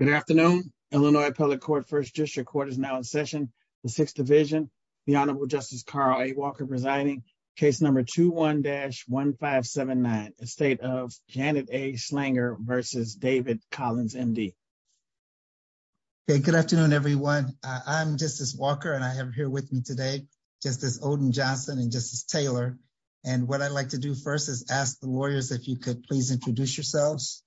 Good afternoon, Illinois public court first district court is now in session, the sixth division, the Honorable Justice Carly Walker presiding case number 21 dash 1579 estate of Canada a slinger versus David Collins MD. Good afternoon, everyone. I'm just as Walker and I have here with me today, just as Odin Johnson and just as Taylor. And what I'd like to do first is ask the lawyers if you could please introduce yourselves.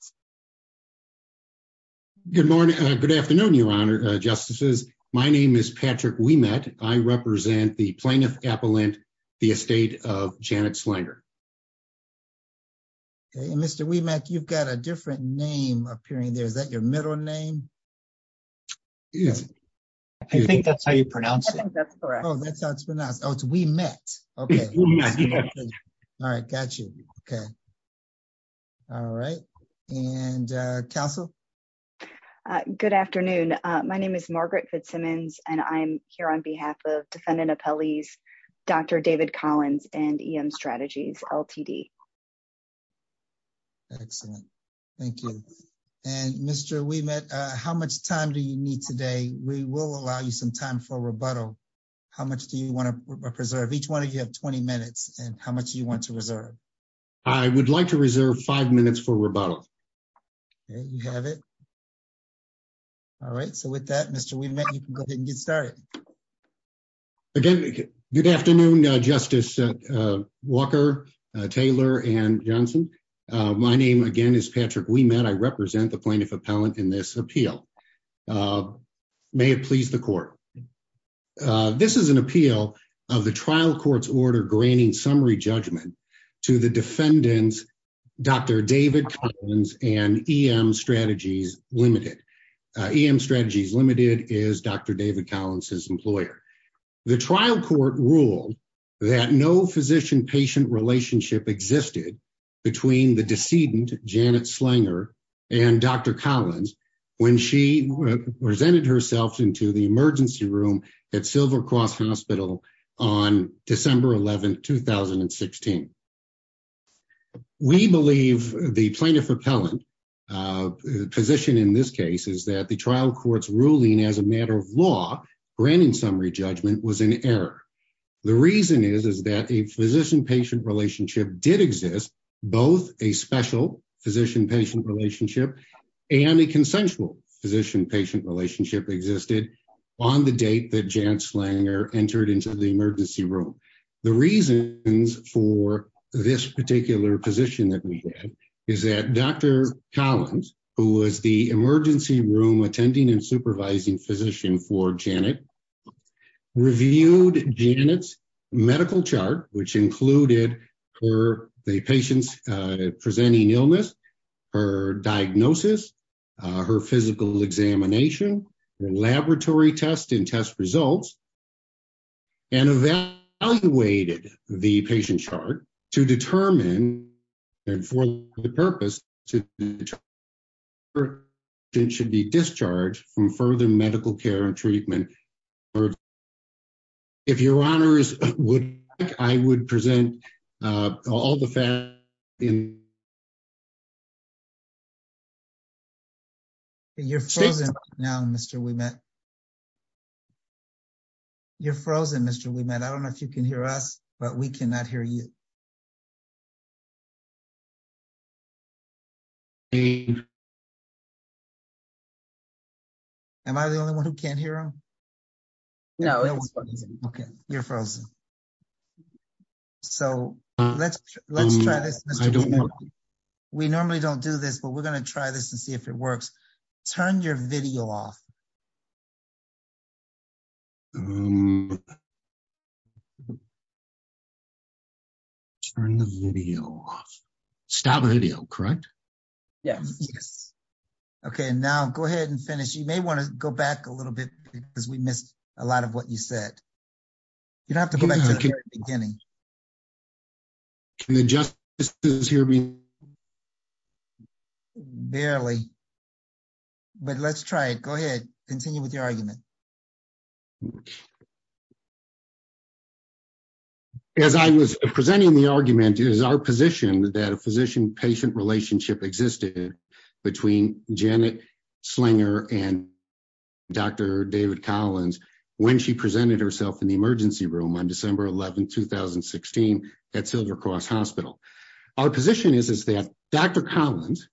Good morning. Good afternoon, Your Honor, justices. My name is Patrick we met, I represent the plaintiff appellant, the estate of Janet slander. Mr we met you've got a different name appearing there is that your middle name. I think that's how you pronounce it. That's correct. Oh, that's how it's pronounced. Oh, we met. Okay. All right, gotcha. Okay. All right. And Castle. Good afternoon. My name is Margaret Fitzsimmons, and I'm here on behalf of defendant appellees. Dr. David Collins and EM strategies Ltd. Excellent. Thank you. And Mr we met, how much time do you need today, we will allow you some time for rebuttal. How much do you want to preserve each one of you have 20 minutes, and how much you want to reserve. I would like to reserve five minutes for rebuttal. You have it. All right, so with that Mr we met you can go ahead and get started. Again, good afternoon, Justice Walker Taylor and Johnson. My name again is Patrick we met I represent the plaintiff appellant in this appeal. May it please the court. This is an appeal of the trial courts order graining summary judgment to the defendants. Dr. David and EM strategies, limited EM strategies limited is Dr. The trial court rule that no physician patient relationship existed between the decedent Janet slinger and Dr. Collins, when she presented herself into the emergency room at silver cross hospital on December 11 2016. We believe the plaintiff repellent position in this case is that the trial courts ruling as a matter of law, granting summary judgment was an error. The reason is, is that a physician patient relationship did exist, both a special physician patient relationship, and the consensual physician patient relationship existed on the date that Janet slang or entered into the emergency room. The reasons for this particular position that we had is that Dr. Collins, who was the emergency room attending and supervising physician for Janet reviewed Janet's medical chart, which included her, the patients, presenting illness or diagnosis. Her physical examination laboratory test and test results. And evaluated the patient chart to determine. And for the purpose to should be discharged from further medical care and treatment. If your honors would, I would present all the. In. Now, Mr. We met. You're frozen Mr. We met I don't know if you can hear us, but we cannot hear you. Hey. Am I the only 1 who can't hear him? No, okay. You're frozen. So, let's let's try this. We normally don't do this, but we're going to try this and see if it works. Turn your video off. Turn the video off. Stop the video correct. Yes. Okay, now go ahead and finish you may want to go back a little bit, because we missed a lot of what you said. You'd have to begin. Can you just hear me. Barely. But let's try it. Go ahead. Continue with your argument. As I was presenting the argument is our position that a physician patient relationship existed between Janet slinger and. Dr. David Collins, when she presented herself in the emergency room on December 11, 2016 at silver cross hospital. Our position is, is that Dr. Collins.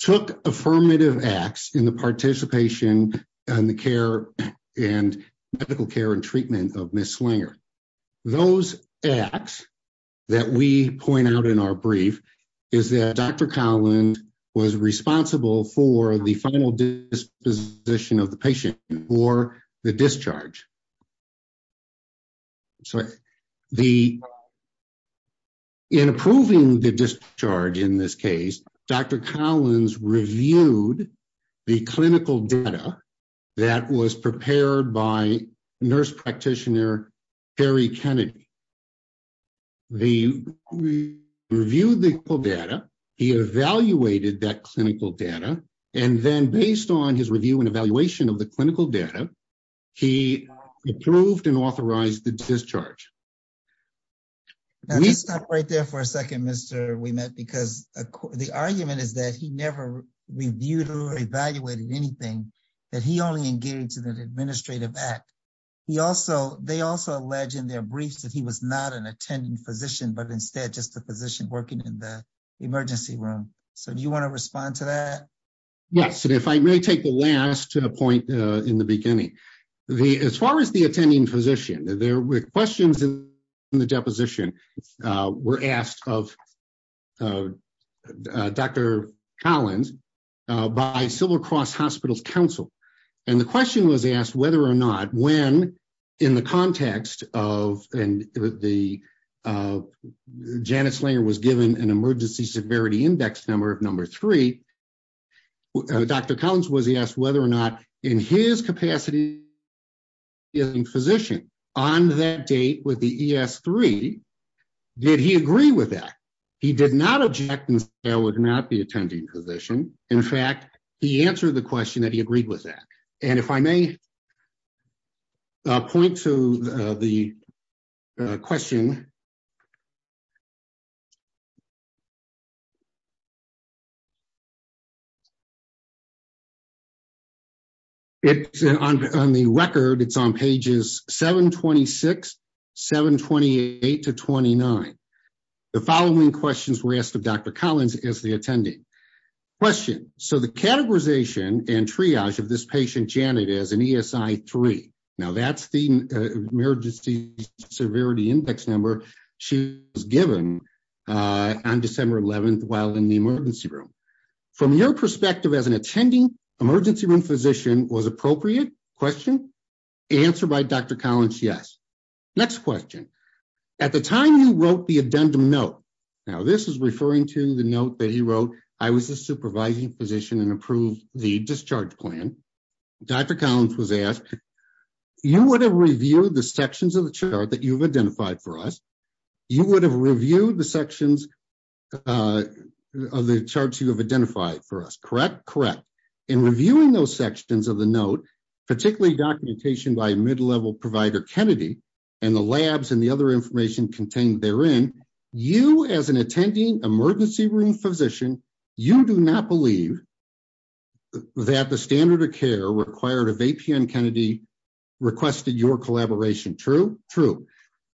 Took affirmative acts in the participation and the care and medical care and treatment of Miss slinger. Those acts that we point out in our brief is that Dr. Collins was responsible for the final disposition of the patient or the discharge. So, the. In approving the discharge in this case, Dr. Collins reviewed. The clinical data that was prepared by nurse practitioner. Harry Kennedy, the review the data. He evaluated that clinical data, and then based on his review and evaluation of the clinical data. He approved and authorized the discharge. Right there for a 2nd, Mr. We met because the argument is that he never reviewed or evaluated anything that he only engaged in an administrative act. He also, they also alleged in their briefs that he was not an attending physician, but instead just the position working in the emergency room. So do you want to respond to that? Yes, and if I may take the last point in the beginning. The, as far as the attending physician, there were questions in the deposition were asked of Dr. Collins. By silver cross hospitals council and the question was asked whether or not when. In the context of the Janice layer was given an emergency severity index number of number 3. Dr. Collins was he asked whether or not in his capacity. In physician on that date with the 3. Did he agree with that? He did not object. I would not be attending position. In fact, he answered the question that he agreed with that. And if I may. Point to the question. It's on the record. It's on pages 726. 728 to 29. The following questions were asked of Dr. Collins is the attending question. So the categorization and triage of this patient Janet as an 3. now, that's the emergency severity index number of number 3. She was given on December 11th while in the emergency room. From your perspective as an attending emergency room physician was appropriate question. Answer by Dr. Collins. Yes. Next question. At the time he wrote the addendum note. Now, this is referring to the note that he wrote. I was a supervising position and approved the discharge plan. Dr. Collins was asked. You would have reviewed the sections of the chart that you've identified for us. You would have reviewed the sections of the charts you have identified for us. Correct. Correct. In reviewing those sections of the note, particularly documentation by mid level provider Kennedy. And the labs and the other information contained there in you as an attending emergency room physician, you do not believe. That the standard of care required of APN Kennedy. Requested your collaboration. True. True.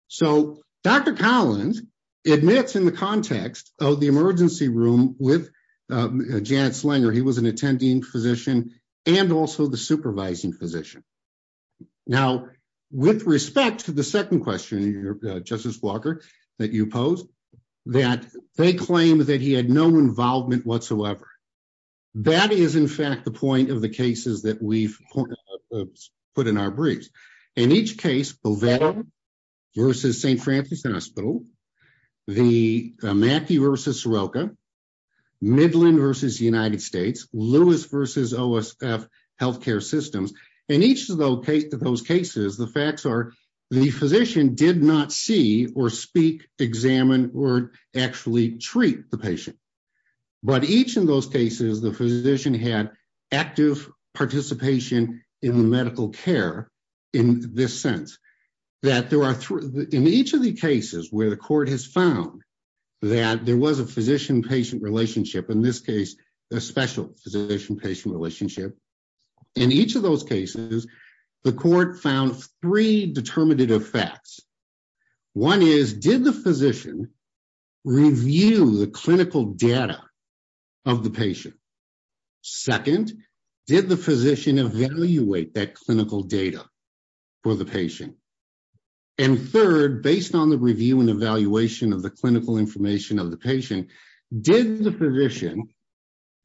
So, Dr. Collins admits in the context of the emergency room with Janet Slanger, he was an attending physician and also the supervising physician. Now, with respect to the 2nd question, Justice Walker that you post. That they claim that he had no involvement whatsoever. That is, in fact, the point of the cases that we've put in our briefs in each case. Versus St. Francis hospital. The Matthew versus. Midland versus the United States, Louis versus health care systems and each of those cases, the facts are the physician did not see or speak examine or actually treat the patient. But each of those cases, the physician had active participation in the medical care. In this sense that there are in each of the cases where the court has found. That there was a physician patient relationship in this case, a special physician patient relationship. In each of those cases, the court found 3 determinative facts. 1 is did the physician. Review the clinical data of the patient. 2nd, did the physician evaluate that clinical data. For the patient, and 3rd, based on the review and evaluation of the clinical information of the patient did the position.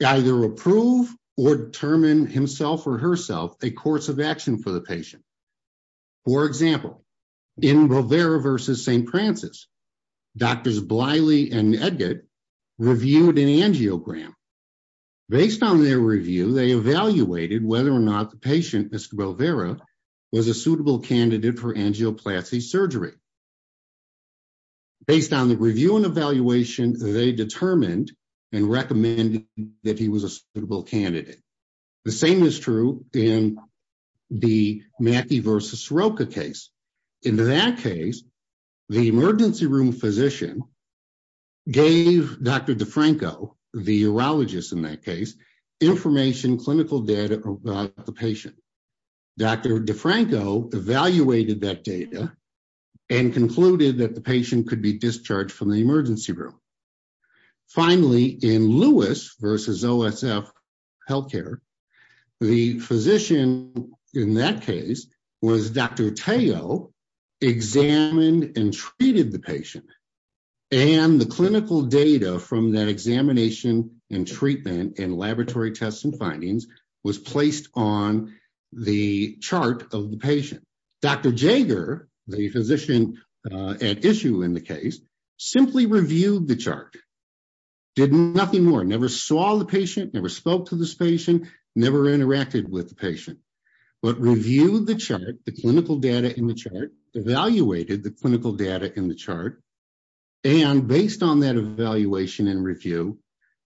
Either approve or determine himself or herself a course of action for the patient. For example. In Rovera versus St. Francis. Doctors Bliley and Edgar reviewed an angiogram. Based on their review, they evaluated whether or not the patient was a suitable candidate for angioplasty surgery. Based on the review and evaluation, they determined. And recommend that he was a suitable candidate. The same is true in the Mackey versus Roka case. In that case. The emergency room physician. Gave Dr. DeFranco the urologist in that case. Information clinical data about the patient. Dr. DeFranco evaluated that data. And concluded that the patient could be discharged from the emergency room. Finally, in Lewis versus health care. The physician in that case was Dr. Examined and treated the patient. And the clinical data from that examination and treatment and laboratory tests and findings was placed on the chart of the patient. Dr. Jager, the physician at issue in the case, simply reviewed the chart. Did nothing more. Never saw the patient. Never spoke to this patient. Never interacted with the patient. But reviewed the chart. The clinical data in the chart. Evaluated the clinical data in the chart. And based on that evaluation and review.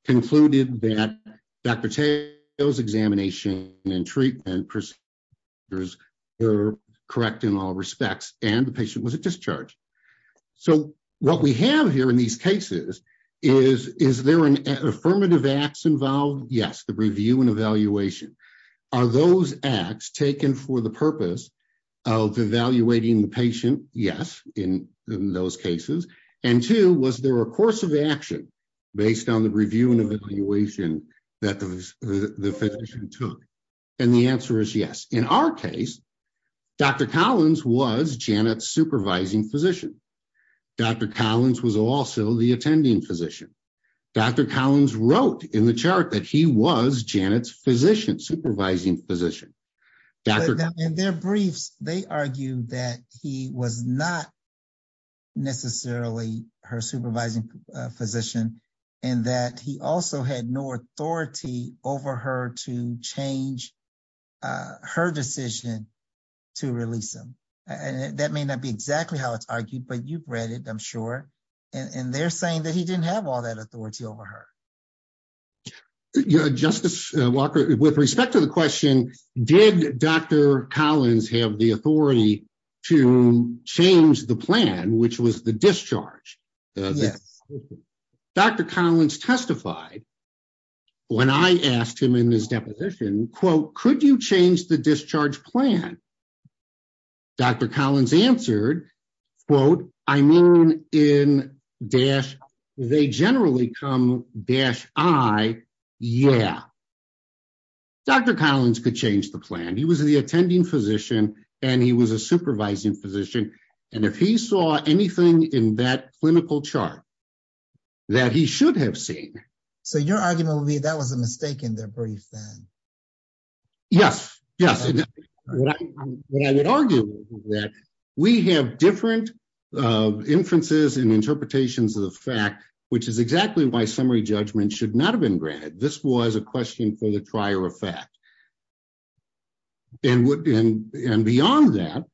Dr. Jager, the physician at issue in the case, simply reviewed the chart. And based on that evaluation and review. Concluded that Dr. Examination and treatment. Correct in all respects. And the patient was at discharge. So what we have here in these cases. Is there an affirmative acts involved? Yes. The review and evaluation. Are those acts taken for the purpose. Of evaluating the patient. Yes. In those cases. And two, was there a course of action. Based on the review and evaluation. That the physician took. And the answer is yes. In our case. Dr. Collins was Janet supervising physician. Dr. Collins was also the attending physician. Dr. Collins wrote in the chart that he was Janet's physician supervising physician. And their briefs. They argue that he was not. Necessarily her supervising physician. And that he also had no authority over her to change. Her decision. To release them. And that may not be exactly how it's argued, but you've read it. I'm sure. And they're saying that he didn't have all that authority over her. Justice Walker, with respect to the question. Did Dr. Collins have the authority. To change the plan, which was the discharge. Yes. Dr. Collins testified. When I asked him in his deposition. Quote, could you change the discharge plan? Dr. Collins answered. Quote, I mean, in dash. They generally come dash. I yeah. Dr. Collins could change the plan. He was the attending physician. And he was a supervising physician. And if he saw anything in that clinical chart. That he should have seen. So you're arguing that was a mistake in their brief. Yes. Yes. I would argue. We have different. Inferences and interpretations of the fact. Which is exactly why summary judgment should not have been granted. This was a question for the trier effect. And beyond that.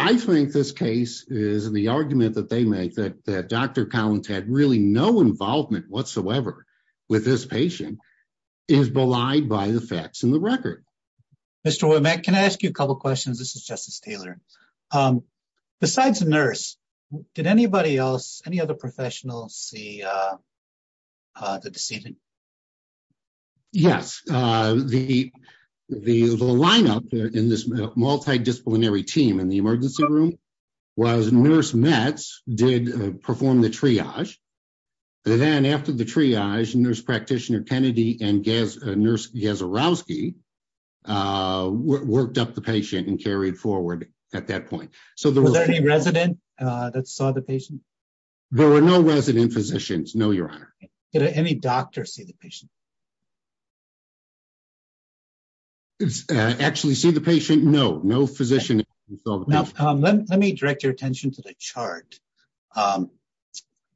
I think this case is the argument that they make that. Dr. Collins had really no involvement whatsoever. With this patient. Is belied by the facts and the record. Okay. Thank you. Mr. Can I ask you a couple of questions? This is justice Taylor. Besides the nurse. Did anybody else, any other professionals see. The deceiving. Yes. The. The lineup in this multidisciplinary team in the emergency room. Was nurse mats did perform the triage. And then after the triage and nurse practitioner Kennedy and gas. Nurse. Yes. Worked up the patient and carried forward. At that point. So the resident. That saw the patient. There were no resident physicians. No, your honor. Any doctor see the patient. Actually see the patient. No, no physician. Let me direct your attention to the chart. The chart. The chart.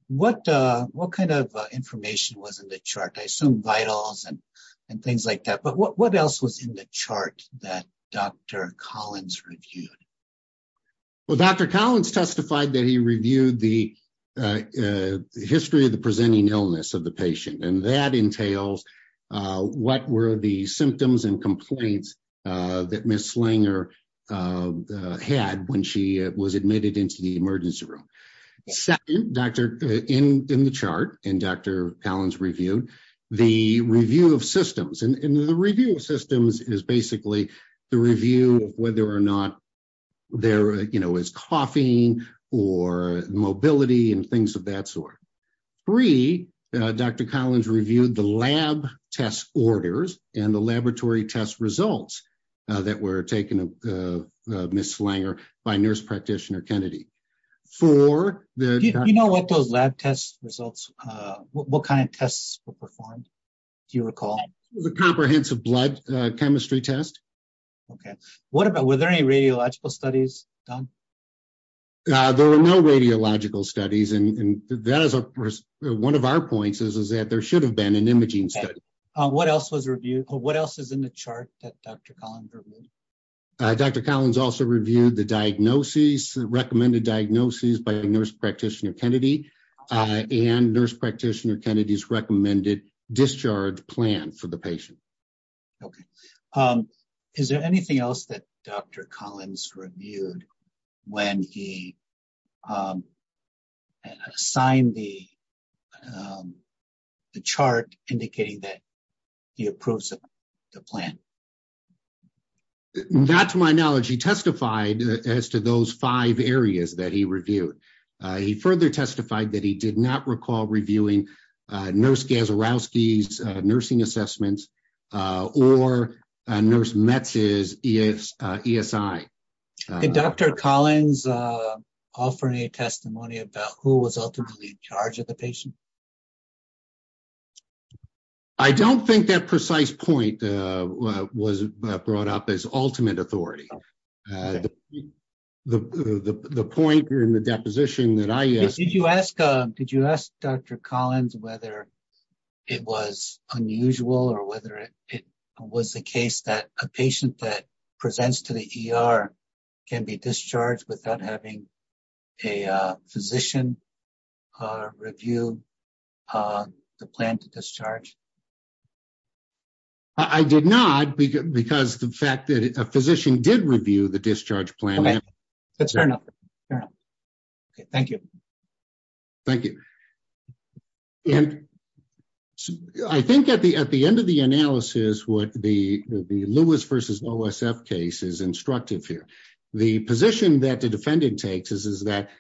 What, what kind of information was in the chart? I assume vitals. And things like that, but what else was in the chart that Dr. Collins reviewed. Well, Dr. Collins testified that he reviewed the. The history of the presenting illness of the patient. And that entails. What were the symptoms and complaints. That Ms. Slinger. Had when she was admitted into the emergency room. Second doctor. In the chart and Dr. Collins reviewed. The review of systems and the review of systems is basically. The review of whether or not. There is coffee. Or mobility and things of that sort. And the laboratory test results. Three. Dr. Collins reviewed the lab. Test orders and the laboratory test results. That were taken. Ms. Slinger. By nurse practitioner Kennedy. For the. You know what those lab tests results. What kind of tests were performed. Do you recall. The comprehensive blood. Chemistry test. Okay. Okay. What about, were there any radiological studies done? There were no radiological studies. And that is. One of our points is, is that there should have been an imaging study. What else was reviewed? What else is in the chart? Dr. Collins. Dr. Collins also reviewed the diagnosis. Recommended diagnosis by nurse practitioner Kennedy. And nurse practitioner Kennedy's recommended. Discharge plan for the patient. Okay. Is there anything else that. Dr. Collins reviewed. When he. Signed the. The chart indicating that. He approves of the plan. That's my knowledge. He testified as to those five areas that he reviewed. He further testified that he did not recall reviewing. Nurse. Nursing assessments. Or nurse. ESI. Dr. Collins. All for any testimony about who was ultimately. In charge of the patient. I don't think that precise point. Was brought up as ultimate authority. The point. In the deposition that I. Did you ask. Did you ask Dr. Collins, whether. It was unusual or whether it. Was the case that a patient that. Presents to the ER. Can be discharged without having. A physician. Review. The plan to discharge. I did not. Because the fact that a physician did review the discharge plan. That's fair enough. Thank you. Thank you. And. I think at the, at the end of the analysis, what the. Louis versus OSF case is instructive here. The position that the defendant takes is, is that.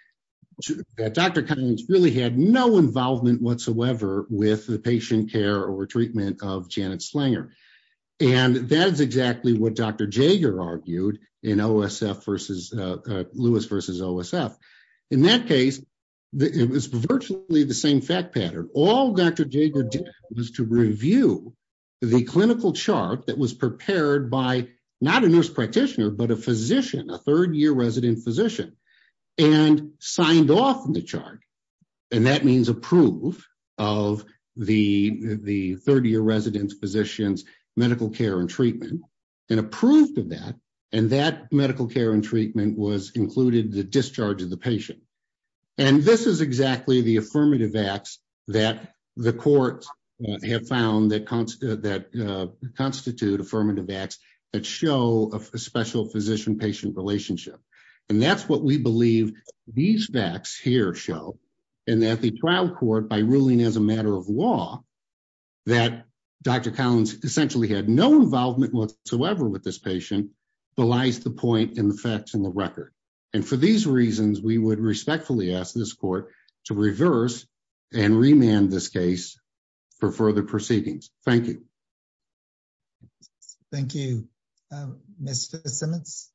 Dr. Collins really had no involvement whatsoever. With the patient care or treatment of Janet Slanger. And that is exactly what Dr. Jagger argued. In OSF versus. Louis versus OSF. In that case. It was virtually the same fact pattern. All Dr. Jagger. Was to review. The clinical chart that was prepared by. Not a nurse practitioner, but a physician, a third year resident. Physician. And signed off on the chart. And that means approve. Of the, the 30 year residents, physicians. Medical care and treatment. And approved of that. And that medical care and treatment was included the discharge of the patient. And this is exactly the affirmative acts. That the courts. Have found that constant, that constitute affirmative acts. That show a special physician patient relationship. And that's what we believe. These facts here show. And that the trial court by ruling as a matter of law. That. Dr. Collins essentially had no involvement whatsoever with this patient. Belies the point in the facts and the record. And for these reasons, we would respectfully ask this court. To reverse. And remand this case. For further proceedings. Thank you. Thank you. Thank you. Mr. Simmons.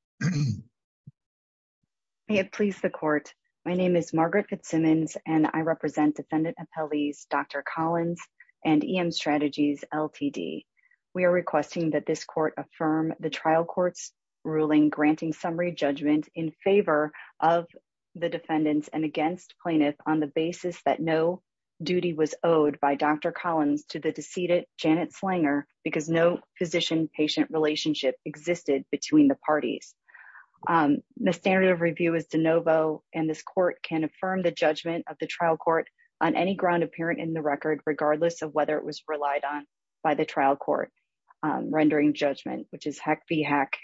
Please the court. My name is Margaret Fitzsimmons and I represent defendant appellees, Dr. Collins. And EM strategies LTD. We are requesting that this court affirm the trial courts. Ruling granting summary judgment in favor. Of the defendants and against plaintiff on the basis that no. Duty was owed by Dr. Collins to the decedent, Janet Slanger. Because no physician patient relationship existed between the parties. The standard of review is DeNovo and this court can affirm the judgment of the trial court. On any ground apparent in the record, regardless of whether it was relied on by the trial court. I'm going to move on to the next item on the agenda. And that is. Rendering judgment, which is heck be hack.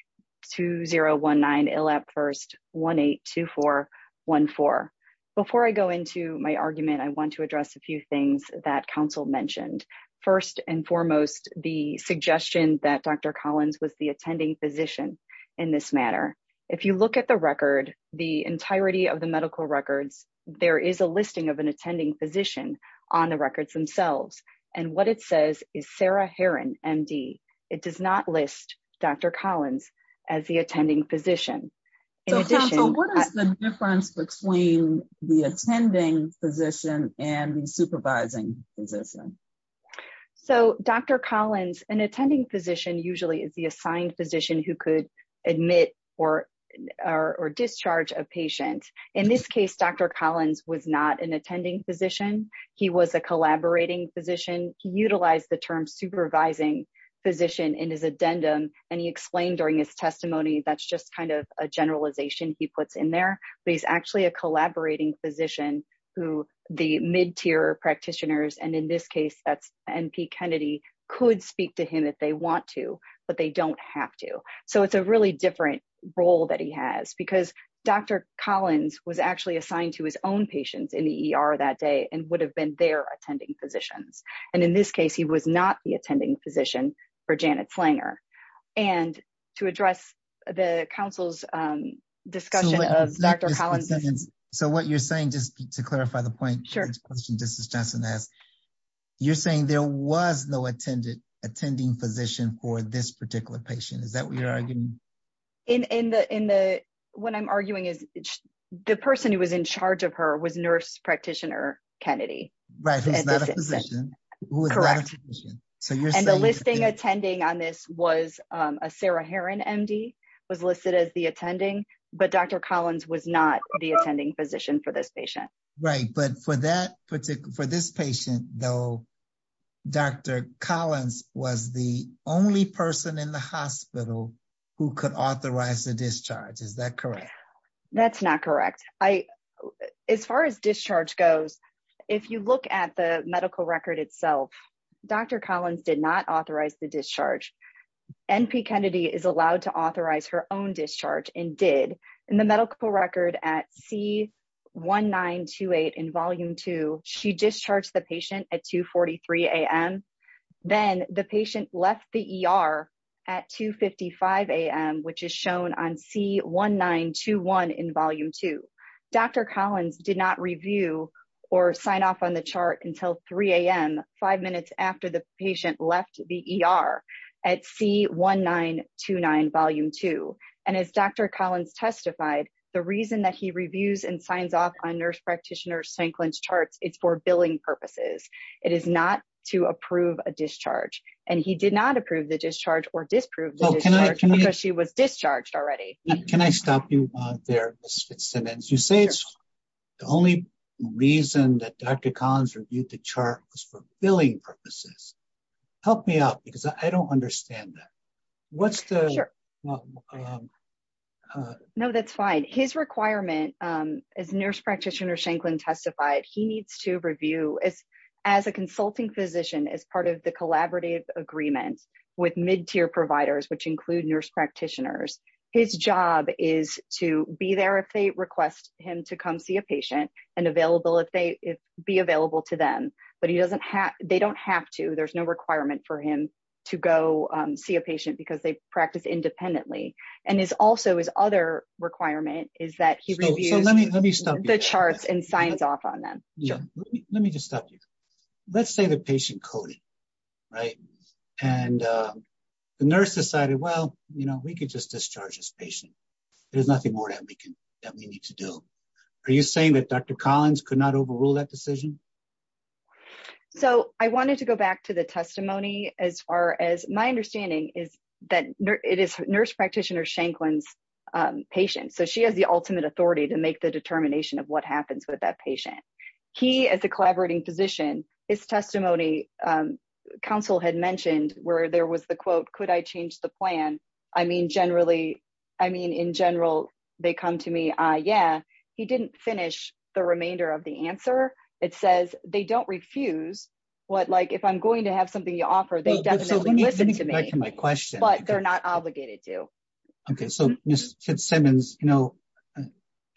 Two zero one nine. First one, eight, two, four. One four. Before I go into my argument, I want to address a few things that council mentioned. First and foremost, the suggestion that Dr. Collins was the attending physician. In this manner. If you look at the record, the entirety of the medical records. There is a listing of an attending physician on the records themselves. And what it says is Sarah Heron MD. It does not list. Dr. Collins. As the attending physician. What is the difference between the attending physician and supervising physician. So Dr. Collins and attending physician usually is the assigned physician who could admit. Or, or, or discharge a patient. In this case, Dr. Collins was not an attending physician. He was a collaborating physician. He utilized the term supervising. Physician in his addendum. And he explained during his testimony, that's just kind of a generalization he puts in there, but he's actually a collaborating physician. Who the mid tier practitioners. And in this case, that's MP Kennedy. Could speak to him if they want to, but they don't have to. So it's a really different role that he has because Dr. Collins was actually assigned to his own patients in the ER that day and would have been there attending physicians. And in this case, he was not the attending physician. For Janet's Langer. And to address the council's discussion of Dr. Collins. So what you're saying, just to clarify the point. Sure. You're saying there was no attended attending physician for this particular patient. Is that what you're arguing? In the, in the, when I'm arguing is. The person who was in charge of her was nurse practitioner. Kennedy. Right. Correct. So you're saying the listing attending on this was a Sarah Heron MD. Was listed as the attending, but Dr. Collins was not the attending physician for this patient. Right. But for that particular, for this patient though, I would argue that. Dr. Collins was the only person in the hospital. Who could authorize the discharge. Is that correct? That's not correct. I. As far as discharge goes. If you look at the medical record itself. Dr. Collins did not authorize the discharge. And P Kennedy is allowed to authorize her own discharge and did in the medical record at C. One nine two eight in volume two, she discharged the patient at two 43 AM. Then the patient left the ER. At two 55 AM, which is shown on C one nine two one in volume two. Dr. Collins did not review or sign off on the chart until 3. Five minutes after the patient left the ER at C one nine two nine volume two. And as Dr. Collins testified, the reason that he reviews and signs off on nurse practitioner Shanklin's charts, it's for billing purposes. It is not to approve a discharge and he did not approve the discharge or disprove. She was discharged already. Can I stop you there? You say it's. The only reason that Dr. Collins reviewed the chart was for billing purposes. Help me out because I don't understand that. What's the. No, that's fine. His requirement. As nurse practitioner Shanklin testified, he needs to review. As a consulting physician, as part of the collaborative agreements with mid tier providers, which include nurse practitioners. And as a consultant physician, he needs to review the charts and signs off on them. he needs to review the charts and signs off on them. And as a consultant physician, his job is to be there if they request him to come see a patient and available. If they. Be available to them, but he doesn't have, they don't have to, there's no requirement for him. To go see a patient because they practice independently. And is also his other requirement is that he reviews. Let me stop the charts and signs off on them. Let me just stop you. Okay. Let's say the patient coded. Right. And. The nurse decided, well, you know, we could just discharge this patient. There's nothing more that we can. That we need to do. Are you saying that Dr. Collins could not overrule that decision? So I wanted to go back to the testimony. As far as my understanding is that it is nurse practitioner Shanklin's. She's the one who has the ultimate authority to make the decision. And she's the one who has the ultimate authority to make the determination of what happens with that patient. So she has the ultimate authority to make the determination of what happens with that patient. He as a collaborating position is testimony. Counsel had mentioned where there was the quote, could I change the plan? I mean, generally. I mean, in general, they come to me. Yeah. He didn't finish the remainder of the answer. It says they don't refuse. What like, if I'm going to have something you offer, I'm going to have to put common sense ahead of everything. So they definitely listen to me. My question. They're not obligated to. Okay. So. Kid Simmons.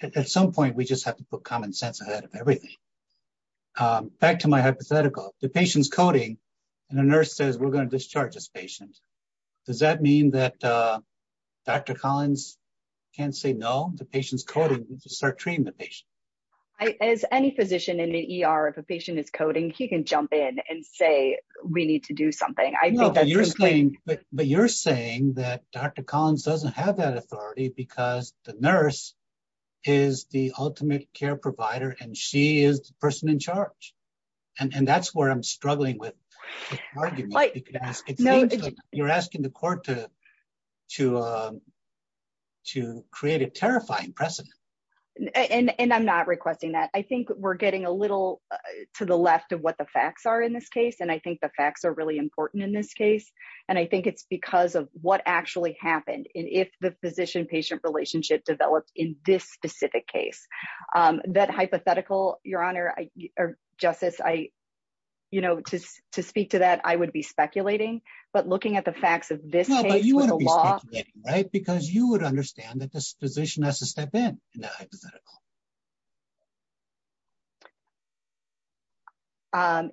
At some point, we just have to put common sense ahead of everything. Back to my hypothetical. The patient's coding. And the nurse says we're going to discharge this patient. Does that mean that. Dr. Collins. Can't say no to patients. Start treating the patient. As any physician in the ER, if a patient is coding, he can jump in and say, we need to do something. But you're saying that. Dr. Collins doesn't have that authority because the nurse. Is the ultimate care provider and she is the person in charge. And that's where I'm struggling with. You're asking the court to. To create a terrifying precedent. And I'm not requesting that. I think we're getting a little. To the left of what the facts are in this case. And I think the facts are really important in this case. And I think it's because of what actually happened in, if the physician patient relationship developed in this specific case. That hypothetical your honor. Or justice. I. You know, to, to speak to that, I would be speculating, But looking at the facts of this. Right. Because you would understand that this position has to step in.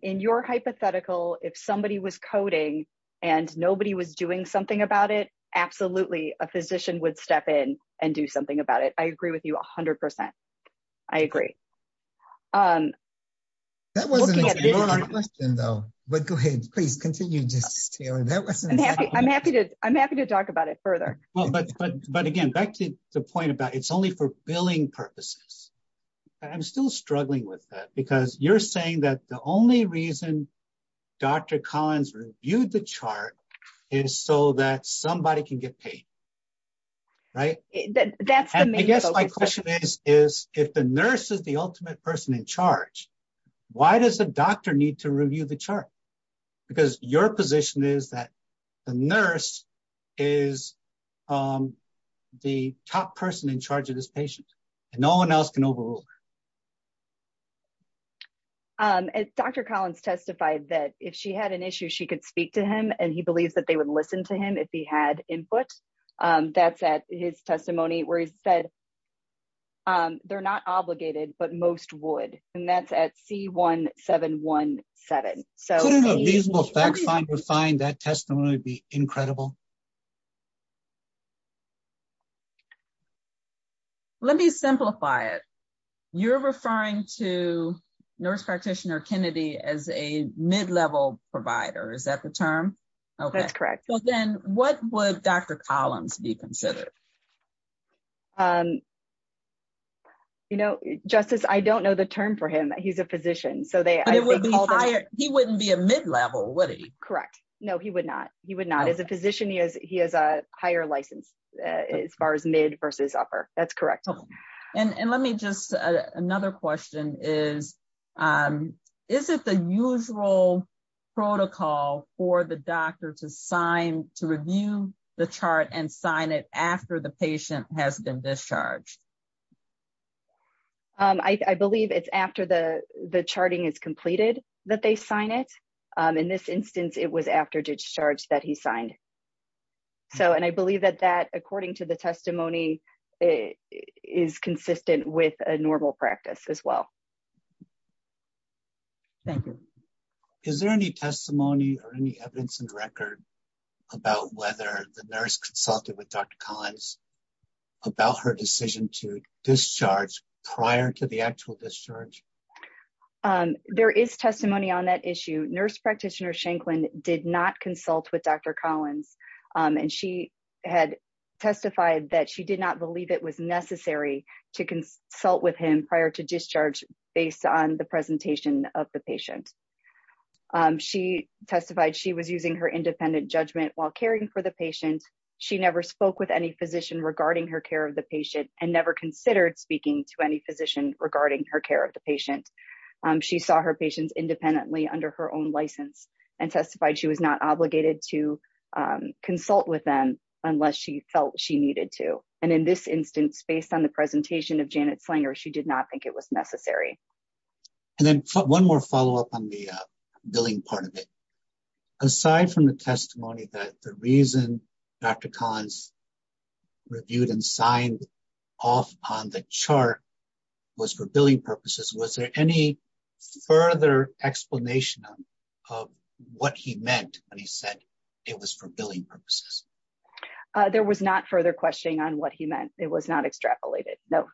In your hypothetical, if somebody was coding. And nobody was doing something about it. Absolutely. A physician would step in and do something about it. I agree with you a hundred percent. I agree. I agree. That wasn't. But go ahead, please continue. I'm happy. I'm happy to talk about it further. But again, back to the point about it's only for billing purposes. I'm still struggling with that because you're saying that the only reason. Dr. Collins. Viewed the chart. Is so that somebody can get paid. Right. That's. I guess my question is, is. If the nurse is the ultimate person in charge. Why does the doctor need to review the chart? Because your position is that. The nurse. Is. The top person in charge of this patient. No one else can overrule. Dr. Collins testified that if she had an issue, she could speak to him and he believes that they would listen to him. If he had input. That's at his testimony where he said. They're not obligated, but most would. And that's at C one seven one seven. So. I don't know. Find that testimony would be incredible. Let me simplify it. You're referring to nurse practitioner Kennedy as a mid-level provider. Is that the term? That's correct. What would Dr. Collins be considered? You know, justice, I don't know the term for him. He's a physician. So they. He wouldn't be a mid-level. Correct. No, he would not. He would not as a physician. He has, he has a higher license. As far as mid versus upper that's correct. And let me just, another question is. Is it the usual. Protocol for the doctor to sign, to review the chart and sign it after the patient has been discharged. I believe it's after the, the charting is completed. That they sign it. In this instance, it was after discharge that he signed. So, and I believe that that, according to the testimony. It is consistent with a normal practice as well. Thank you. Is there any testimony or any evidence in the record? About whether the nurse consulted with Dr. Collins. About her decision to discharge prior to the actual discharge. There is testimony on that issue. Nurse practitioner Shanklin did not consult with Dr. Collins. And she had testified that she did not believe it was necessary to consult with him prior to discharge. Based on the presentation of the patient. She testified she was using her independent judgment while caring for the patient. She never spoke with any physician regarding her care of the patient and never considered speaking to any physician regarding her care of the patient. She saw her patients independently under her own license and testified she was not obligated to consult with them. Unless she felt she needed to. And in this instance, based on the presentation of Janet Slinger, she did not think it was necessary. And then one more follow-up on the billing part of it. Aside from the testimony that the reason. Dr. Collins. Reviewed and signed. Off on the chart. Was for billing purposes. Was there any. Further explanation. Of what he meant when he said it was for billing purposes. There was not further questioning on what he meant. It was not extrapolated. No.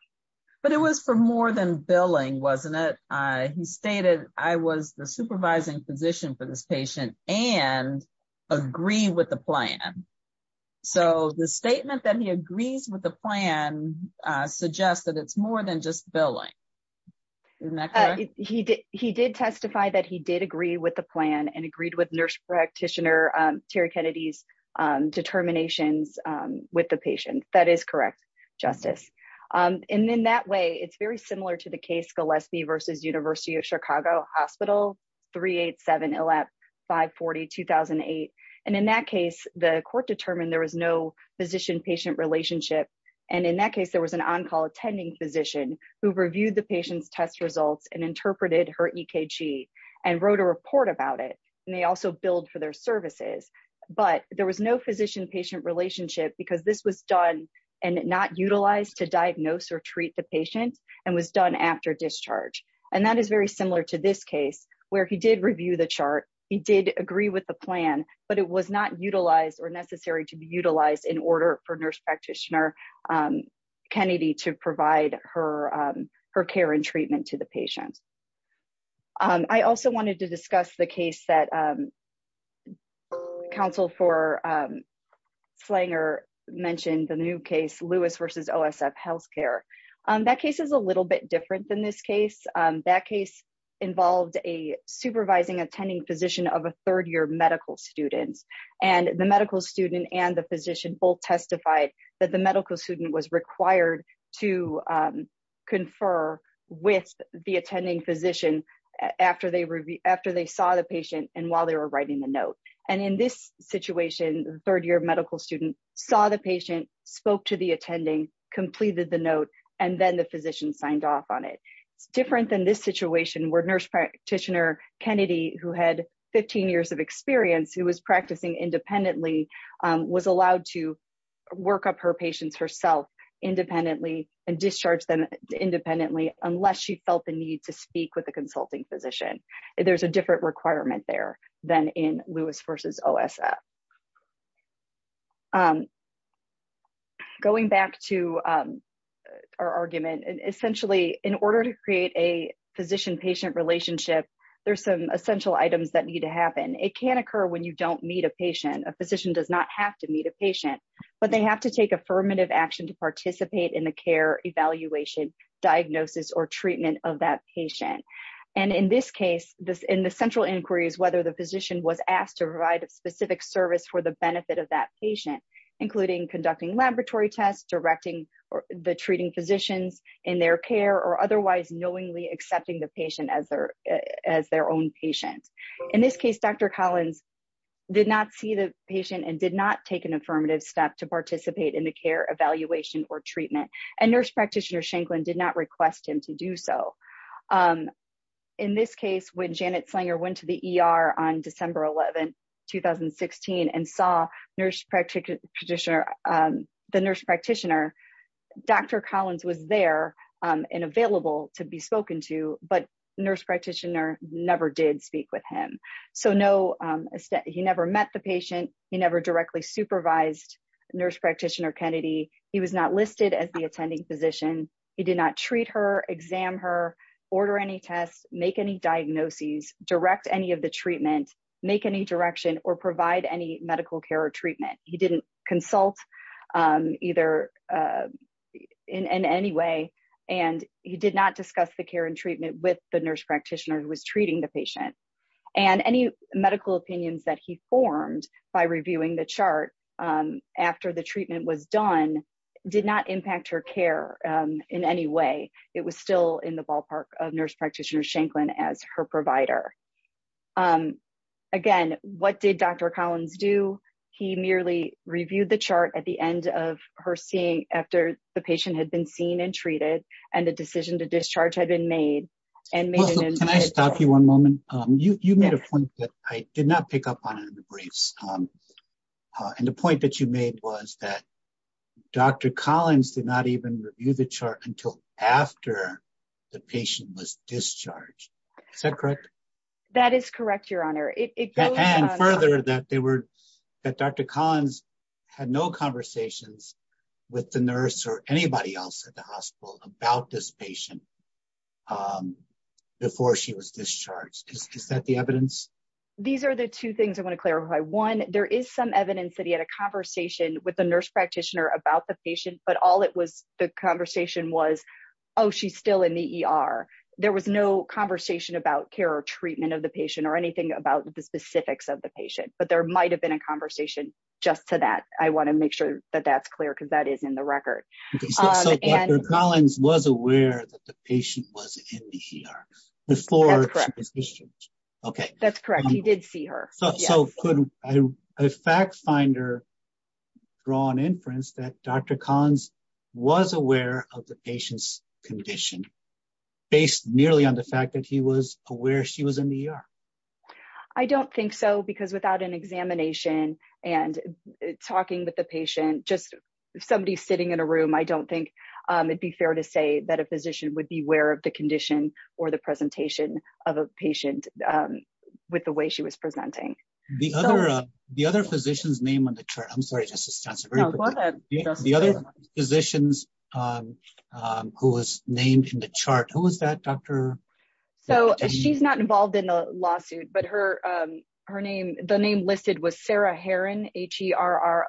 But it was for more than billing. Wasn't it? He stated I was the supervising physician for this patient and. Agree with the plan. So the statement that he agrees with the plan. Suggests that it's more than just billing. He did. He did testify that he did agree with the plan and agreed with nurse practitioner. Terry Kennedy's. Determinations with the patient. That is correct. Justice. And then that way it's very similar to the case. And in that case, the court determined there was no physician patient relationship. And in that case, there was an on-call attending physician. Who've reviewed the patient's test results and interpreted her EKG and wrote a report about it. And they also build for their services. And that is very similar to this case where he did review the chart. He did agree with the plan, but it was not utilized or necessary to be utilized in order for nurse practitioner. Kennedy to provide her. Her care and treatment to the patient. I also wanted to discuss the case that. Counsel for. Slanger mentioned the new case Lewis versus OSF healthcare. That case is a little bit different than this case. That case. Involved a supervising attending physician of a third-year medical students and the medical student and the physician both testified that the medical student was required to. Confer with the attending physician after they review, after they saw the patient and while they were writing the note. And in this situation, third-year medical student saw the patient. Spoke to the attending, completed the note, and then the physician signed off on it. It's different than this situation where nurse practitioner Kennedy, who had 15 years of experience, who was practicing independently. Was allowed to. Work up her patients herself independently and discharge them independently, unless she felt the need to speak with a consulting physician. There's a different requirement there than in Lewis versus OSF. Going back to our argument and essentially in order to create a physician patient relationship, there's some essential items that need to happen. It can occur when you don't meet a patient, a physician does not have to meet a patient, but they have to take affirmative action to participate in the care evaluation. Diagnosis or treatment of that patient. And in this case, this in the central inquiry is whether the physician was asked to provide a specific service for the benefit of that patient, including conducting laboratory tests, directing the treating physicians in their care, or otherwise knowingly accepting the patient as their, as their own patients. In this case, Dr. Collins did not see the patient and did not take an affirmative step to participate in the care evaluation or treatment. And nurse practitioner Shanklin did not request him to do so. In this case, when Janet Slinger went to the ER on December 11th, 2016 and saw nurse practitioner, the nurse practitioner, Dr. Collins was there and available to be spoken to, but nurse practitioner never did speak with him. So no, he never met the patient. He never directly supervised nurse practitioner Kennedy. He was not listed as the attending physician. He did not treat her, exam her order, any tests, make any diagnoses, direct any of the treatment, make any direction or provide any medical care or treatment. He didn't consult either. In any way. And he did not discuss the care and treatment with the nurse practitioner who was treating the patient and any medical opinions that he formed by reviewing the chart after the treatment was done, did not impact her care in any way. It was still in the ballpark of nurse practitioner Shanklin as her provider. Again, what did Dr. Collins do? He merely reviewed the chart at the end of her seeing after the patient had been seen and treated and the decision to discharge had been made. Can I stop you one moment? You made a point that I did not pick up on it in the briefs. And the point that you made was that Dr. Collins did not even review the chart until after the patient was discharged. Is that correct? That is correct. Your honor. And further that they were that Dr. Collins had no conversations with the nurse or anybody else at the hospital about this patient before she was discharged. Is that the evidence? These are the two things I want to clarify. One, there is some evidence that he had a conversation with the nurse practitioner about the patient, but all it was, the conversation was, Oh, she's still in the ER. There was no conversation about care or treatment of the patient or anything about the specifics of the patient, but there might've been a conversation just to that. I want to make sure that that's clear because that is in the record. Collins was aware that the patient was in the ER before. Okay. That's correct. He did see her. So a fact finder. Draw an inference that Dr. Collins was aware of the patient's condition. Based nearly on the fact that he was aware she was in the ER. I don't think so because without an examination and talking with the patient, just somebody sitting in a room, I don't think it'd be fair to say that a physician would be aware of the condition. But there's no evidence that there was a conversation about the presentation of a patient. With the way she was presenting. The other physicians name on the chart. I'm sorry. Just to be. Physicians. Who was named in the chart. Who was that? Doctor. So she's not involved in a lawsuit, but her. Her name, the name listed was Sarah Herrin, H E R.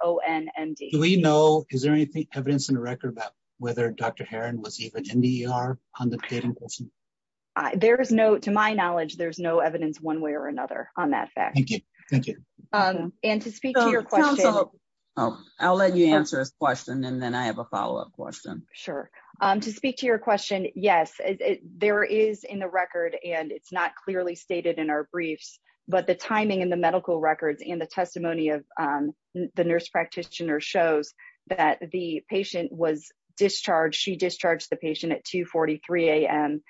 We know is there anything evidence in the record about. Whether Dr. Herrin was even in the ER. There is no, to my knowledge, there's no evidence one way or another. On that fact. Thank you. And to speak to your question. I'll let you answer this question. And then I have a follow-up question. Sure. To speak to your question. Yes. There is in the record and it's not clearly stated in our briefs. But the timing and the medical records and the testimony of. Dr. At 2 53 AM. The nurse practitioner shows that the patient was discharged. She discharged the patient at 2 43 AM.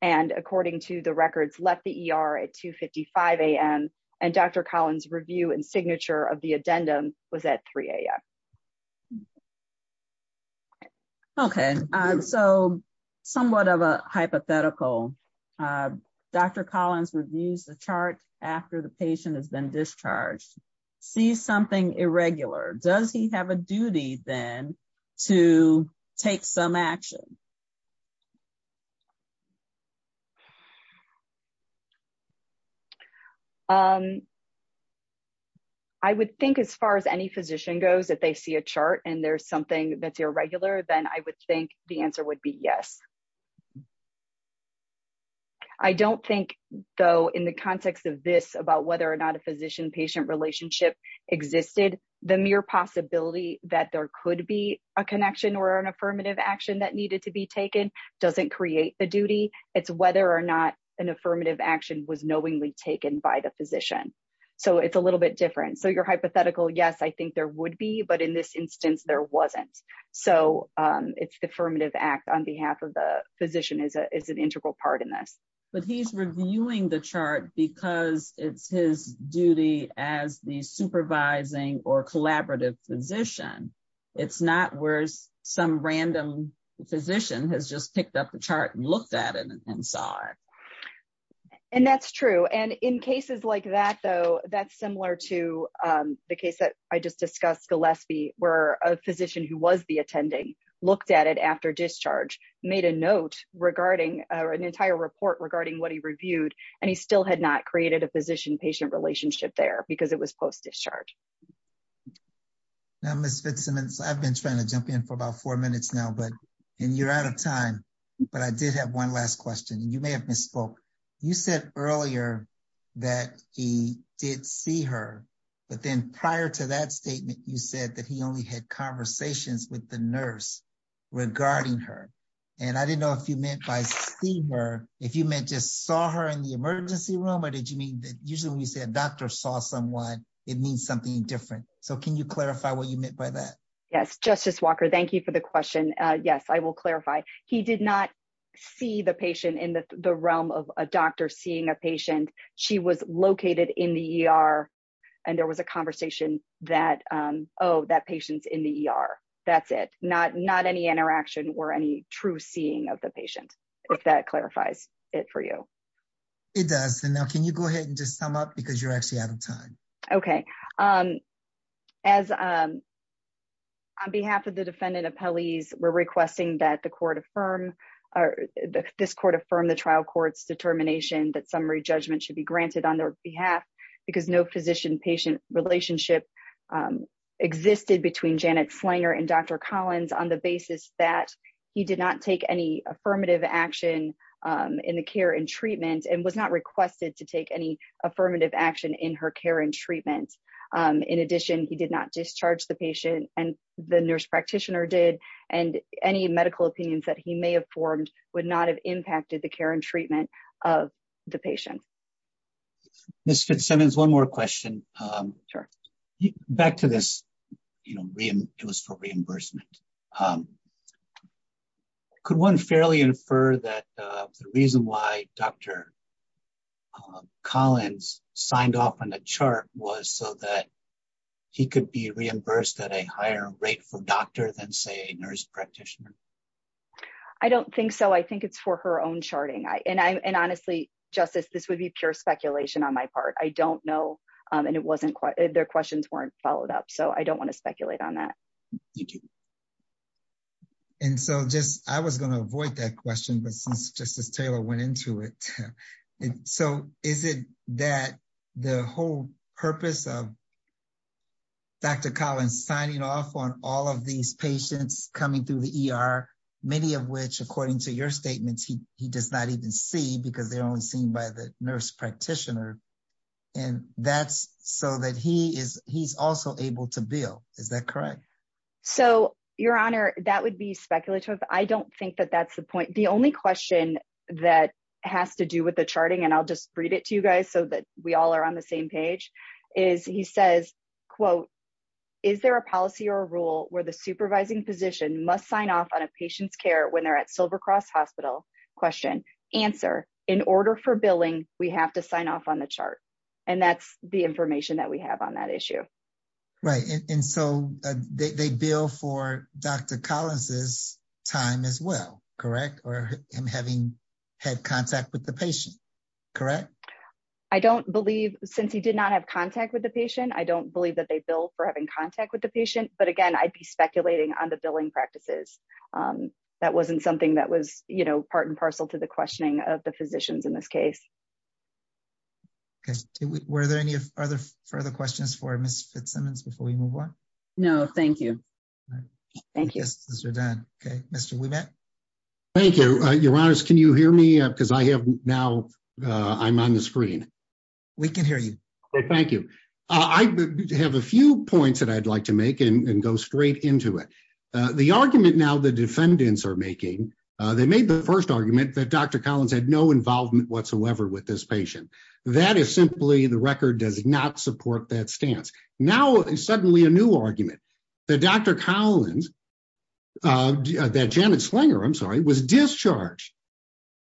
And according to the records, left the ER at 2 55 AM. And Dr. Collins review and signature of the addendum was at 3 AM. Okay. So somewhat of a hypothetical. Dr. Collins reviews the chart after the patient has been discharged. See something irregular. Does he have a duty then? To take some action. I would think as far as any physician goes, if they see a chart and there's something that's irregular, then I would think the answer would be yes. I don't think though, in the context of this about whether or not a physician patient relationship existed, the mere possibility that there could be a connection or an affirmative action that needed to be taken. Doesn't create the duty. It's whether or not an affirmative action was knowingly taken by the physician. So it's a little bit different. So your hypothetical, yes, I think there would be, but in this instance, there wasn't. So it's the affirmative act on behalf of the physician. Okay. So I would think that the physician is a, is an integral part in this. But he's reviewing the chart because it's his duty as the supervising or collaborative physician. It's not worse. Some random physician has just picked up the chart and looked at it and saw it. And that's true. And in cases like that, though, that's similar to. The case that I just discussed, Gillespie where a physician who was the attending looked at it after discharge made a note regarding an entire report regarding what he reviewed. And he still had not created a physician patient relationship there because it was post-discharge. Now, Ms. Fitzsimmons, I've been trying to jump in for about four minutes now, but, and you're out of time, but I did have one last question. And you may have misspoke. You said earlier that he did see her, but then prior to that statement, you said that he only had conversations with the nurse regarding her. And I didn't know if you meant by seeing her, if you meant just saw her in the emergency room, or did you mean that usually when you say a doctor saw someone, it means something different. So can you clarify what you meant by that? Yes. Justice Walker. Thank you for the question. Yes, I will clarify. He did not see the patient in the realm of a doctor seeing a patient. She was located in the ER and there was a conversation that, Oh, that patient's in the ER. That's it. Not, not any interaction or any true seeing of the patient, if that clarifies it for you. It does. And now can you go ahead and just sum up? Because you're actually out of time. Okay. As on behalf of the defendant appellees, we're requesting that the court affirm or this court affirm the trial court's determination that summary judgment should be granted on their behalf because no physician patient relationship existed between Janet Slanger and Dr. Collins on the basis that he did not take any affirmative action in the care and treatment and was not requested to take any affirmative action in her care and treatment. In addition, he did not discharge the patient and the nurse practitioner did and any medical opinions that he may have formed would not have impacted the care and treatment of the patient. Mr. Simmons, one more question. Sure. Back to this, you know, it was for reimbursement. Could one fairly infer that the reason why Dr. Collins signed off on the chart was so that he could be reimbursed at a higher rate for doctor than say nurse practitioner? I don't think so. I think it's for her own charting. I, and I, and honestly justice, this would be pure speculation on my part. I don't know. And it wasn't quite, their questions weren't followed up. So I don't want to speculate on that. And so just, I was going to avoid that question, but since justice Taylor went into it, so is it that the whole purpose of Dr. Collins signing off on all of these patients coming through the ER, many of which, according to your statements, he, he does not even see because they're only seen by the nurse practitioner. And that's so that he is, he's also able to bill. Is that correct? So your honor, that would be speculative. I don't think that that's the point. The only question that has to do with the charting, and I'll just read it to you guys so that we all are on the same page is he says, quote, is there a policy or a rule where the supervising position must sign off on a patient's care when they're at silver cross hospital question answer in order for billing, we have to sign off on the chart. And that's the information that we have on that issue. Right. And so they, they bill for Dr. Collins's time as well. Correct. Or him having had contact with the patient. Correct. I don't believe since he did not have contact with the patient, I don't believe that they bill for having contact with the patient, but again, I'd be speculating on the billing practices. That wasn't something that was, you know, part and parcel to the questioning of the physicians in this case. Were there any other further questions for Ms. Fitzsimmons before we move on? No, thank you. Thank you. This is your dad. Okay. Mr. We met. Thank you. Uh, your honors, can you hear me? Cause I have now, uh, I'm on the screen. We can hear you. Thank you. I have a few points that I'd like to make and go straight into it. Uh, the argument now the defendants are making, uh, they made the first argument that Dr. Collins had no involvement whatsoever with this patient. That is simply the record does not support that stance. Now suddenly a new argument that Dr. Collins, uh, that Janet Slinger, I'm sorry, was discharged.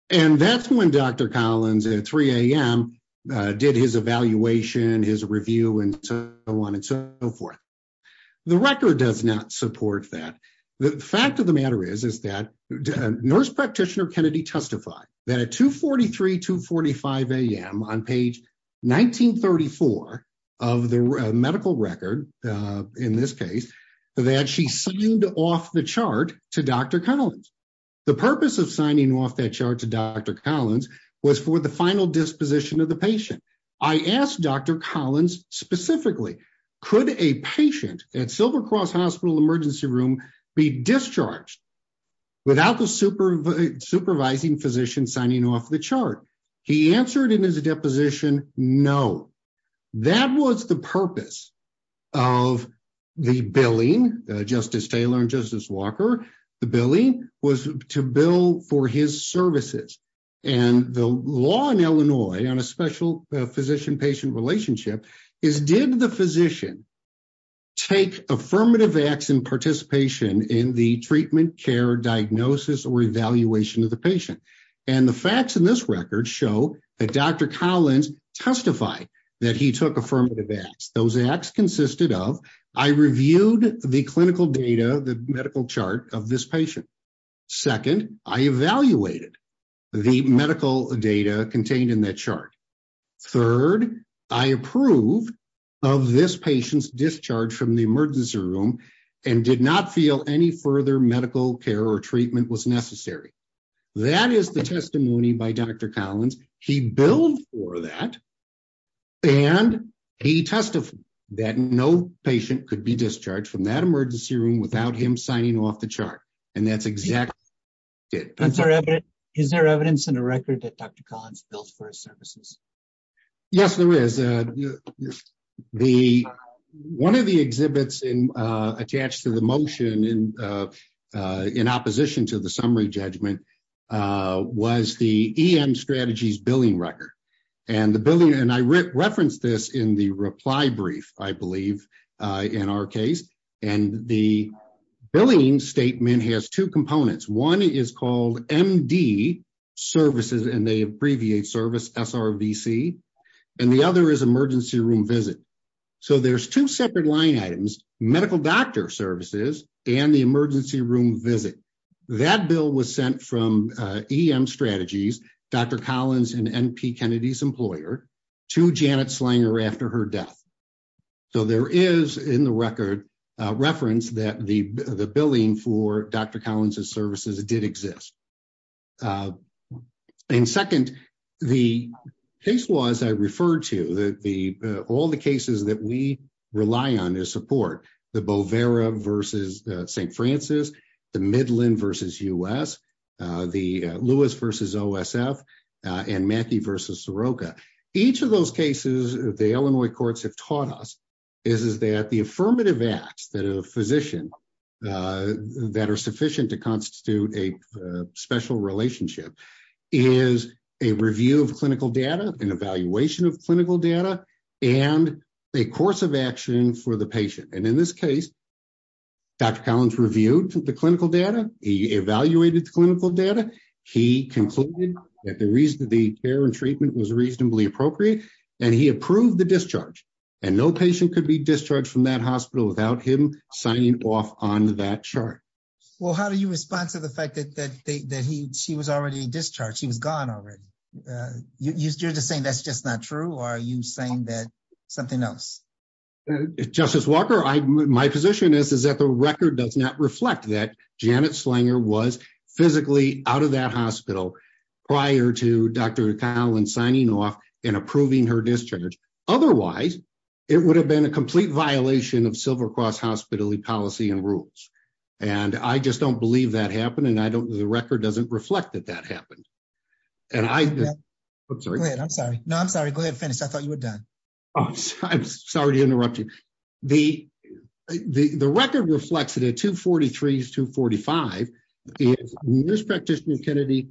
And that's when Dr. Collins at 3.00 AM, uh, did his evaluation, his review and so on and so forth. The record does not support that. The fact of the matter is, is that nurse practitioner Kennedy testified that at two 43 to 45 AM on page 1934 of the medical record, uh, in this case that she signed off the chart to Dr. Collins. The purpose of signing off that chart to Dr. Collins was for the final disposition of the patient. I asked Dr. Collins specifically, could a patient at silver cross hospital emergency room be discharged without the super supervising physician signing off the chart? He answered in his deposition. No, that was the purpose of the billing justice Taylor and justice Walker. The billing was to bill for his services and the law in Illinois on a special physician patient relationship is did the physician take affirmative acts in participation in the treatment care diagnosis or evaluation of the patient and the facts in this record show that Dr. Collins testified that he took affirmative acts. Those acts consisted of, I reviewed the clinical data, the medical chart of this patient. Second, I evaluated the medical data contained in that chart. Third, I approved of this patient's discharge from the emergency room and did not feel any further medical care or treatment was necessary. That is the testimony by Dr. Collins. He billed for that and he testified that no patient could be discharged from that emergency room without him signing off the chart. And that's exactly it. Is there evidence in a record that Dr. Collins built for his services? Yes, there is. Uh, the, one of the exhibits in, uh, attached to the motion in, uh, uh, in opposition to the summary judgment, uh, was the EM strategies billing record and the billing. And I referenced this in the reply brief, I believe, uh, in our case and the billing statement has two components. One is called MD services and they abbreviate service SRVC and the other is emergency room visit. So there's two separate line items, medical doctor services and the emergency room visit. That bill was sent from, uh, EM strategies, Dr. Collins and NP Kennedy's employer to Janet Slanger after her death. So there is in the record, uh, reference that the billing for Dr. Collins's services did exist. Uh, and second, the case was, I referred to the, the, all the cases that we rely on is support the Bovera versus, uh, St. Francis, the Midland versus us, uh, the, uh, Lewis versus OSF, uh, and Mackie versus Soroka. Each of those cases the Illinois courts have taught us is, is that the affirmative acts that a physician, uh, that are sufficient to constitute a, uh, special relationship is a review of clinical data and evaluation of clinical data and a course of action for the patient. And in this case, Dr. Collins reviewed the clinical data. He evaluated the clinical data. He concluded that the reason that the care and treatment was reasonably appropriate and he approved the discharge and no patient could be discharged from that hospital without him signing off on that chart. Well, how do you respond to the fact that, that, that he, she was already discharged. She was gone already. Uh, you, you're just saying that's just not true. Or are you saying that something else? Justice Walker, I, my position is is that the record does not reflect that Janet Slanger was physically out of that hospital prior to Dr. Collins signing off and approving her discharge. Otherwise, it would have been a complete violation of silver cross hospitally policy and rules. And I just don't believe that happened. And I don't, the record doesn't reflect that that happened. And I, I'm sorry. No, I'm sorry. Go ahead and finish. I thought you were done. I'm sorry to interrupt you. The, the, the record reflects it at two 43 is two 45 years. Practitioner Kennedy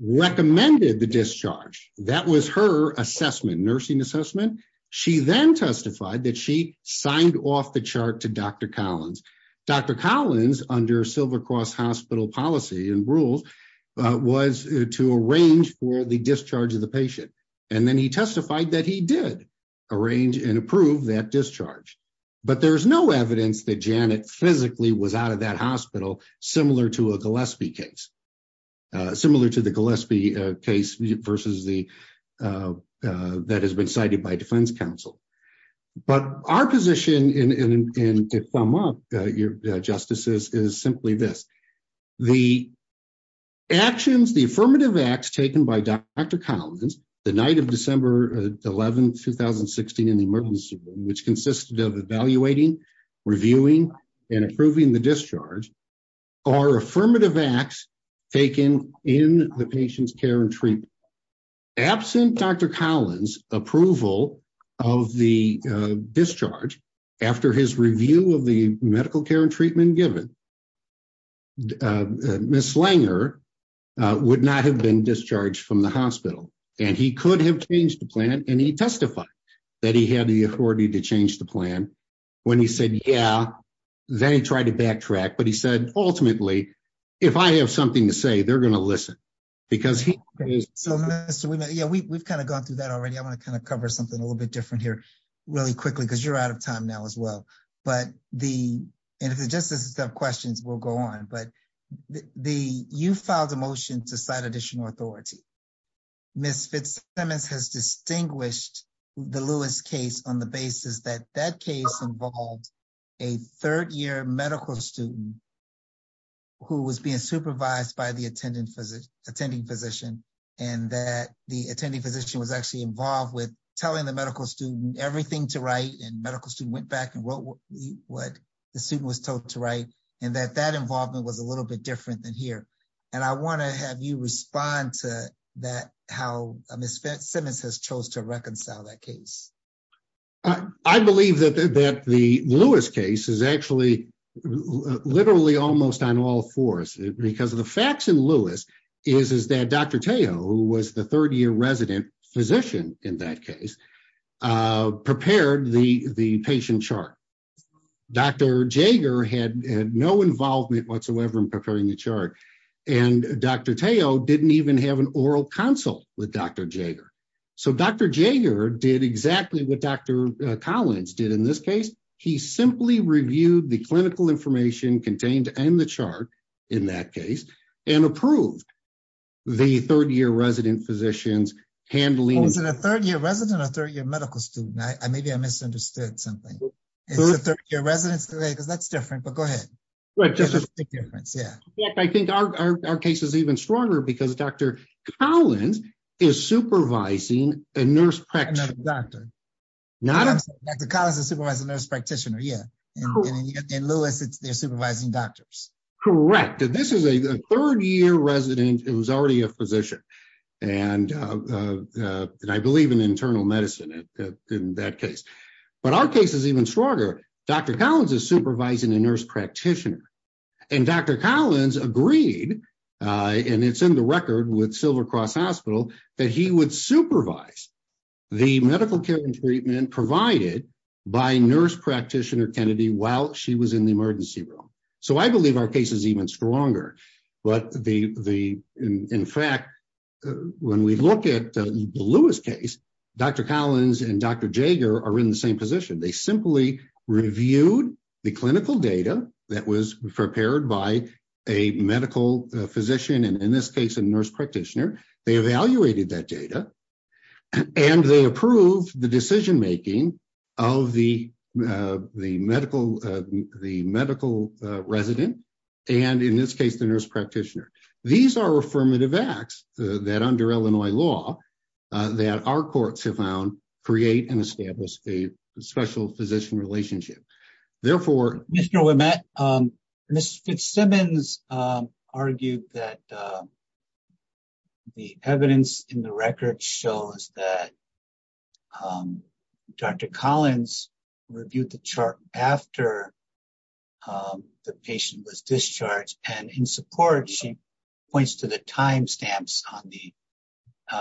recommended the discharge. That was her assessment, nursing assessment. She then testified that she signed off the chart to Dr. Collins, Dr. Collins under silver cross hospital policy and rules, uh, was to arrange for the discharge of the patient. And then he testified that he did arrange and approve that discharge, but there's no evidence that Janet physically was out of that hospital, similar to a Gillespie case, uh, similar to the Gillespie case versus the, uh, uh, that has been cited by defense council. But our position in, in, in, in a thumb up, uh, your justices is simply this, the actions, the affirmative acts taken by Dr. Collins, the night of December 11th, 2016 in the emergency room, which consisted of evaluating, reviewing, and approving the discharge are affirmative acts taken in the patient's care and treatment absent Dr. Collins approval of the, uh, discharge after his review of the medical care and treatment given. Uh, uh, Miss Langer, uh, would not have been discharged from the hospital and he could have changed the plan. And he testified that he had the authority to change the plan when he said, yeah, they tried to backtrack, but he said, ultimately, if I have something to say, they're going to listen because he is. So Mr. Yeah, we we've kind of gone through that already. I want to kind of cover something a little bit different here really quickly because you're out of time now as well, but the, and if the justice questions will go on, but the, you filed a motion to cite additional authority. Ms. Fitzsimmons has distinguished the Lewis case on the basis that that case involved a third year medical student who was being supervised by the attendant physician, attending physician, and that the attending physician was actually involved with telling the medical student everything to write and medical student went back and wrote what the student was told to write. And that that involvement was a little bit different than here. And I want to have you respond to that, how Ms. Fitzsimmons has chose to reconcile that case. I believe that the, that the Lewis case is actually literally almost on all fours because of the facts in Lewis is, is that Dr. Tao, who was the third year resident physician in that case, uh, was not involved in preparing the, the patient chart. Dr. Jaeger had no involvement whatsoever in preparing the chart. And Dr. Tao didn't even have an oral consult with Dr. Jaeger. So Dr. Jaeger did exactly what Dr. Collins did in this case. He simply reviewed the clinical information contained in the chart. In that case. And approved. The third year resident physicians handling. Was it a third year resident or third year medical student? I maybe I misunderstood something. It's a third year residents today. Cause that's different, but go ahead. Yeah. I think our, our, our case is even stronger because Dr. Collins. Is supervising a nurse. Doctor. Not. The college has supervised a nurse practitioner. Yeah. And Lewis it's they're supervising doctors. Correct. Yeah. Yeah. Correct. And this is a third year resident. It was already a physician. And. And I believe in internal medicine. In that case. But our case is even stronger. Dr. Collins is supervising a nurse practitioner. And Dr. Collins agreed. And it's in the record with silver cross hospital. That he would supervise. The medical care and treatment provided. By nurse practitioner Kennedy while she was in the emergency room. So I believe our case is even stronger. But the, the, in fact. When we look at the Lewis case. Dr. Collins and Dr. Jagger are in the same position. They simply reviewed. The clinical data that was prepared by. A medical physician. And in this case, a nurse practitioner. They evaluated that data. And they approved the decision-making. Of the, the medical. The medical resident. And in this case, the nurse practitioner. These are affirmative acts. That under Illinois law. That our courts have found. Create and establish a special physician relationship. Therefore, Mr. Mr. Simmons. Argued that. The evidence in the record shows that. Dr. Collins. Reviewed the chart after. The patient was discharged. And in support. Points to the timestamps on the.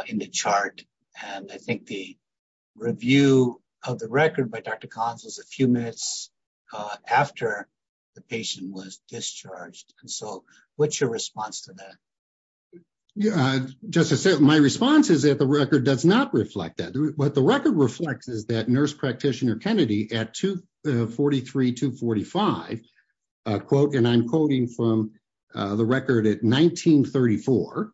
In the chart. And I think the. Review. Of the record by Dr. Collins was a few minutes. After. The patient was discharged. And so what's your response to that? Yeah. Just to say my response is that the record does not reflect that. What the record reflects is that nurse practitioner Kennedy. At two. 43 to 45. A quote, and I'm quoting from. The record at 1934.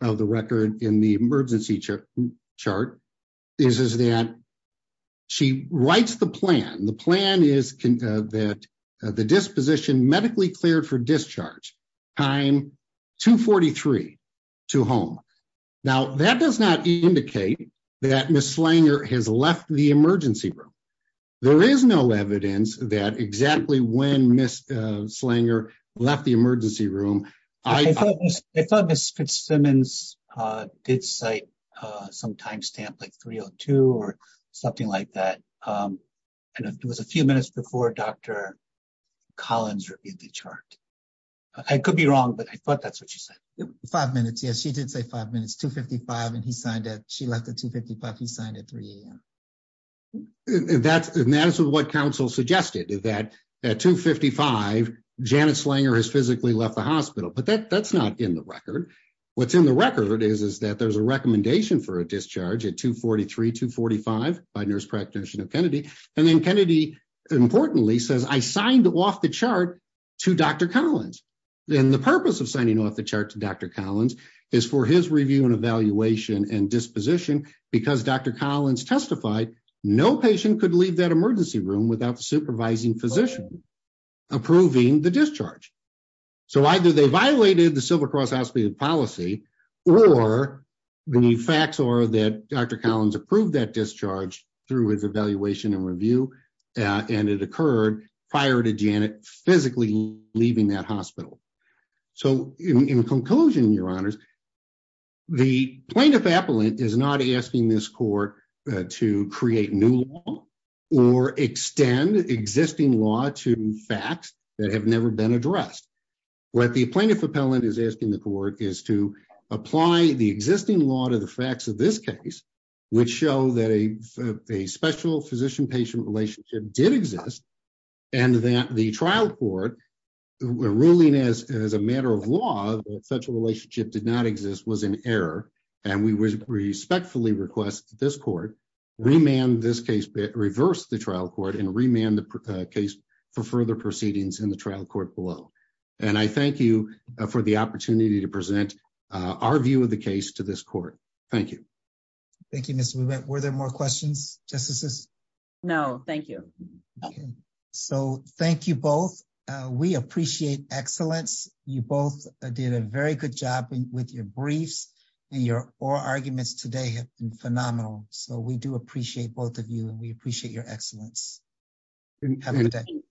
Of the record in the emergency. Chart. What I'm saying here. Is, is that. She writes the plan. The plan is. That the disposition medically cleared for discharge. Time. Two 43. To home. Now that does not indicate. That Ms. Slanger has left the emergency room. There is no evidence that exactly. When Ms. Slanger. Left the emergency room. I thought Ms. Fitzsimmons. Did say. Some timestamp, like 302. Something like that. And it was a few minutes before Dr. Collins. I could be wrong, but I thought that's what she said. Five minutes. Yes. She did say five minutes to 55 and he signed it. She left the two 55. He signed it three. That's what counsel suggested. That at two 55. Janet Slanger has physically left the hospital, but that's not in the record. What's in the record is, is that there's a recommendation for a discharge at two 43 to 45. By nurse practitioner Kennedy. And then Kennedy. Importantly says I signed off the chart. To Dr. Collins. Then the purpose of signing off the chart to Dr. Collins. Is for his review and evaluation and disposition. Is for his evaluation and disposition. Because Dr. Collins testified. No patient could leave that emergency room without supervising physician. Approving the discharge. So either they violated the civil cross hospital policy. Or. When you facts or that Dr. Collins approved that discharge through his evaluation and review. And it occurred prior to Janet physically. Leaving that hospital. So in conclusion, your honors. The plaintiff appellant is not asking this court. To create new. Or extend existing law to facts. That have never been addressed. What the plaintiff appellant is asking the court is to apply the existing law to the facts of this case. Which show that a, a special physician patient relationship did exist. And that the trial court. The ruling as, as a matter of law, that such a relationship did not exist was an error. And we respectfully request this court. Remand this case. Reverse the trial court and remand the case. For further proceedings in the trial court below. And I thank you for the opportunity to present. Our view of the case to this court. Thank you. Thank you. Were there more questions? Justices. No, thank you. So thank you both. We appreciate excellence. You both did a very good job with your briefs. And your arguments today have been phenomenal. So we do appreciate both of you and we appreciate your excellence. Have a good day.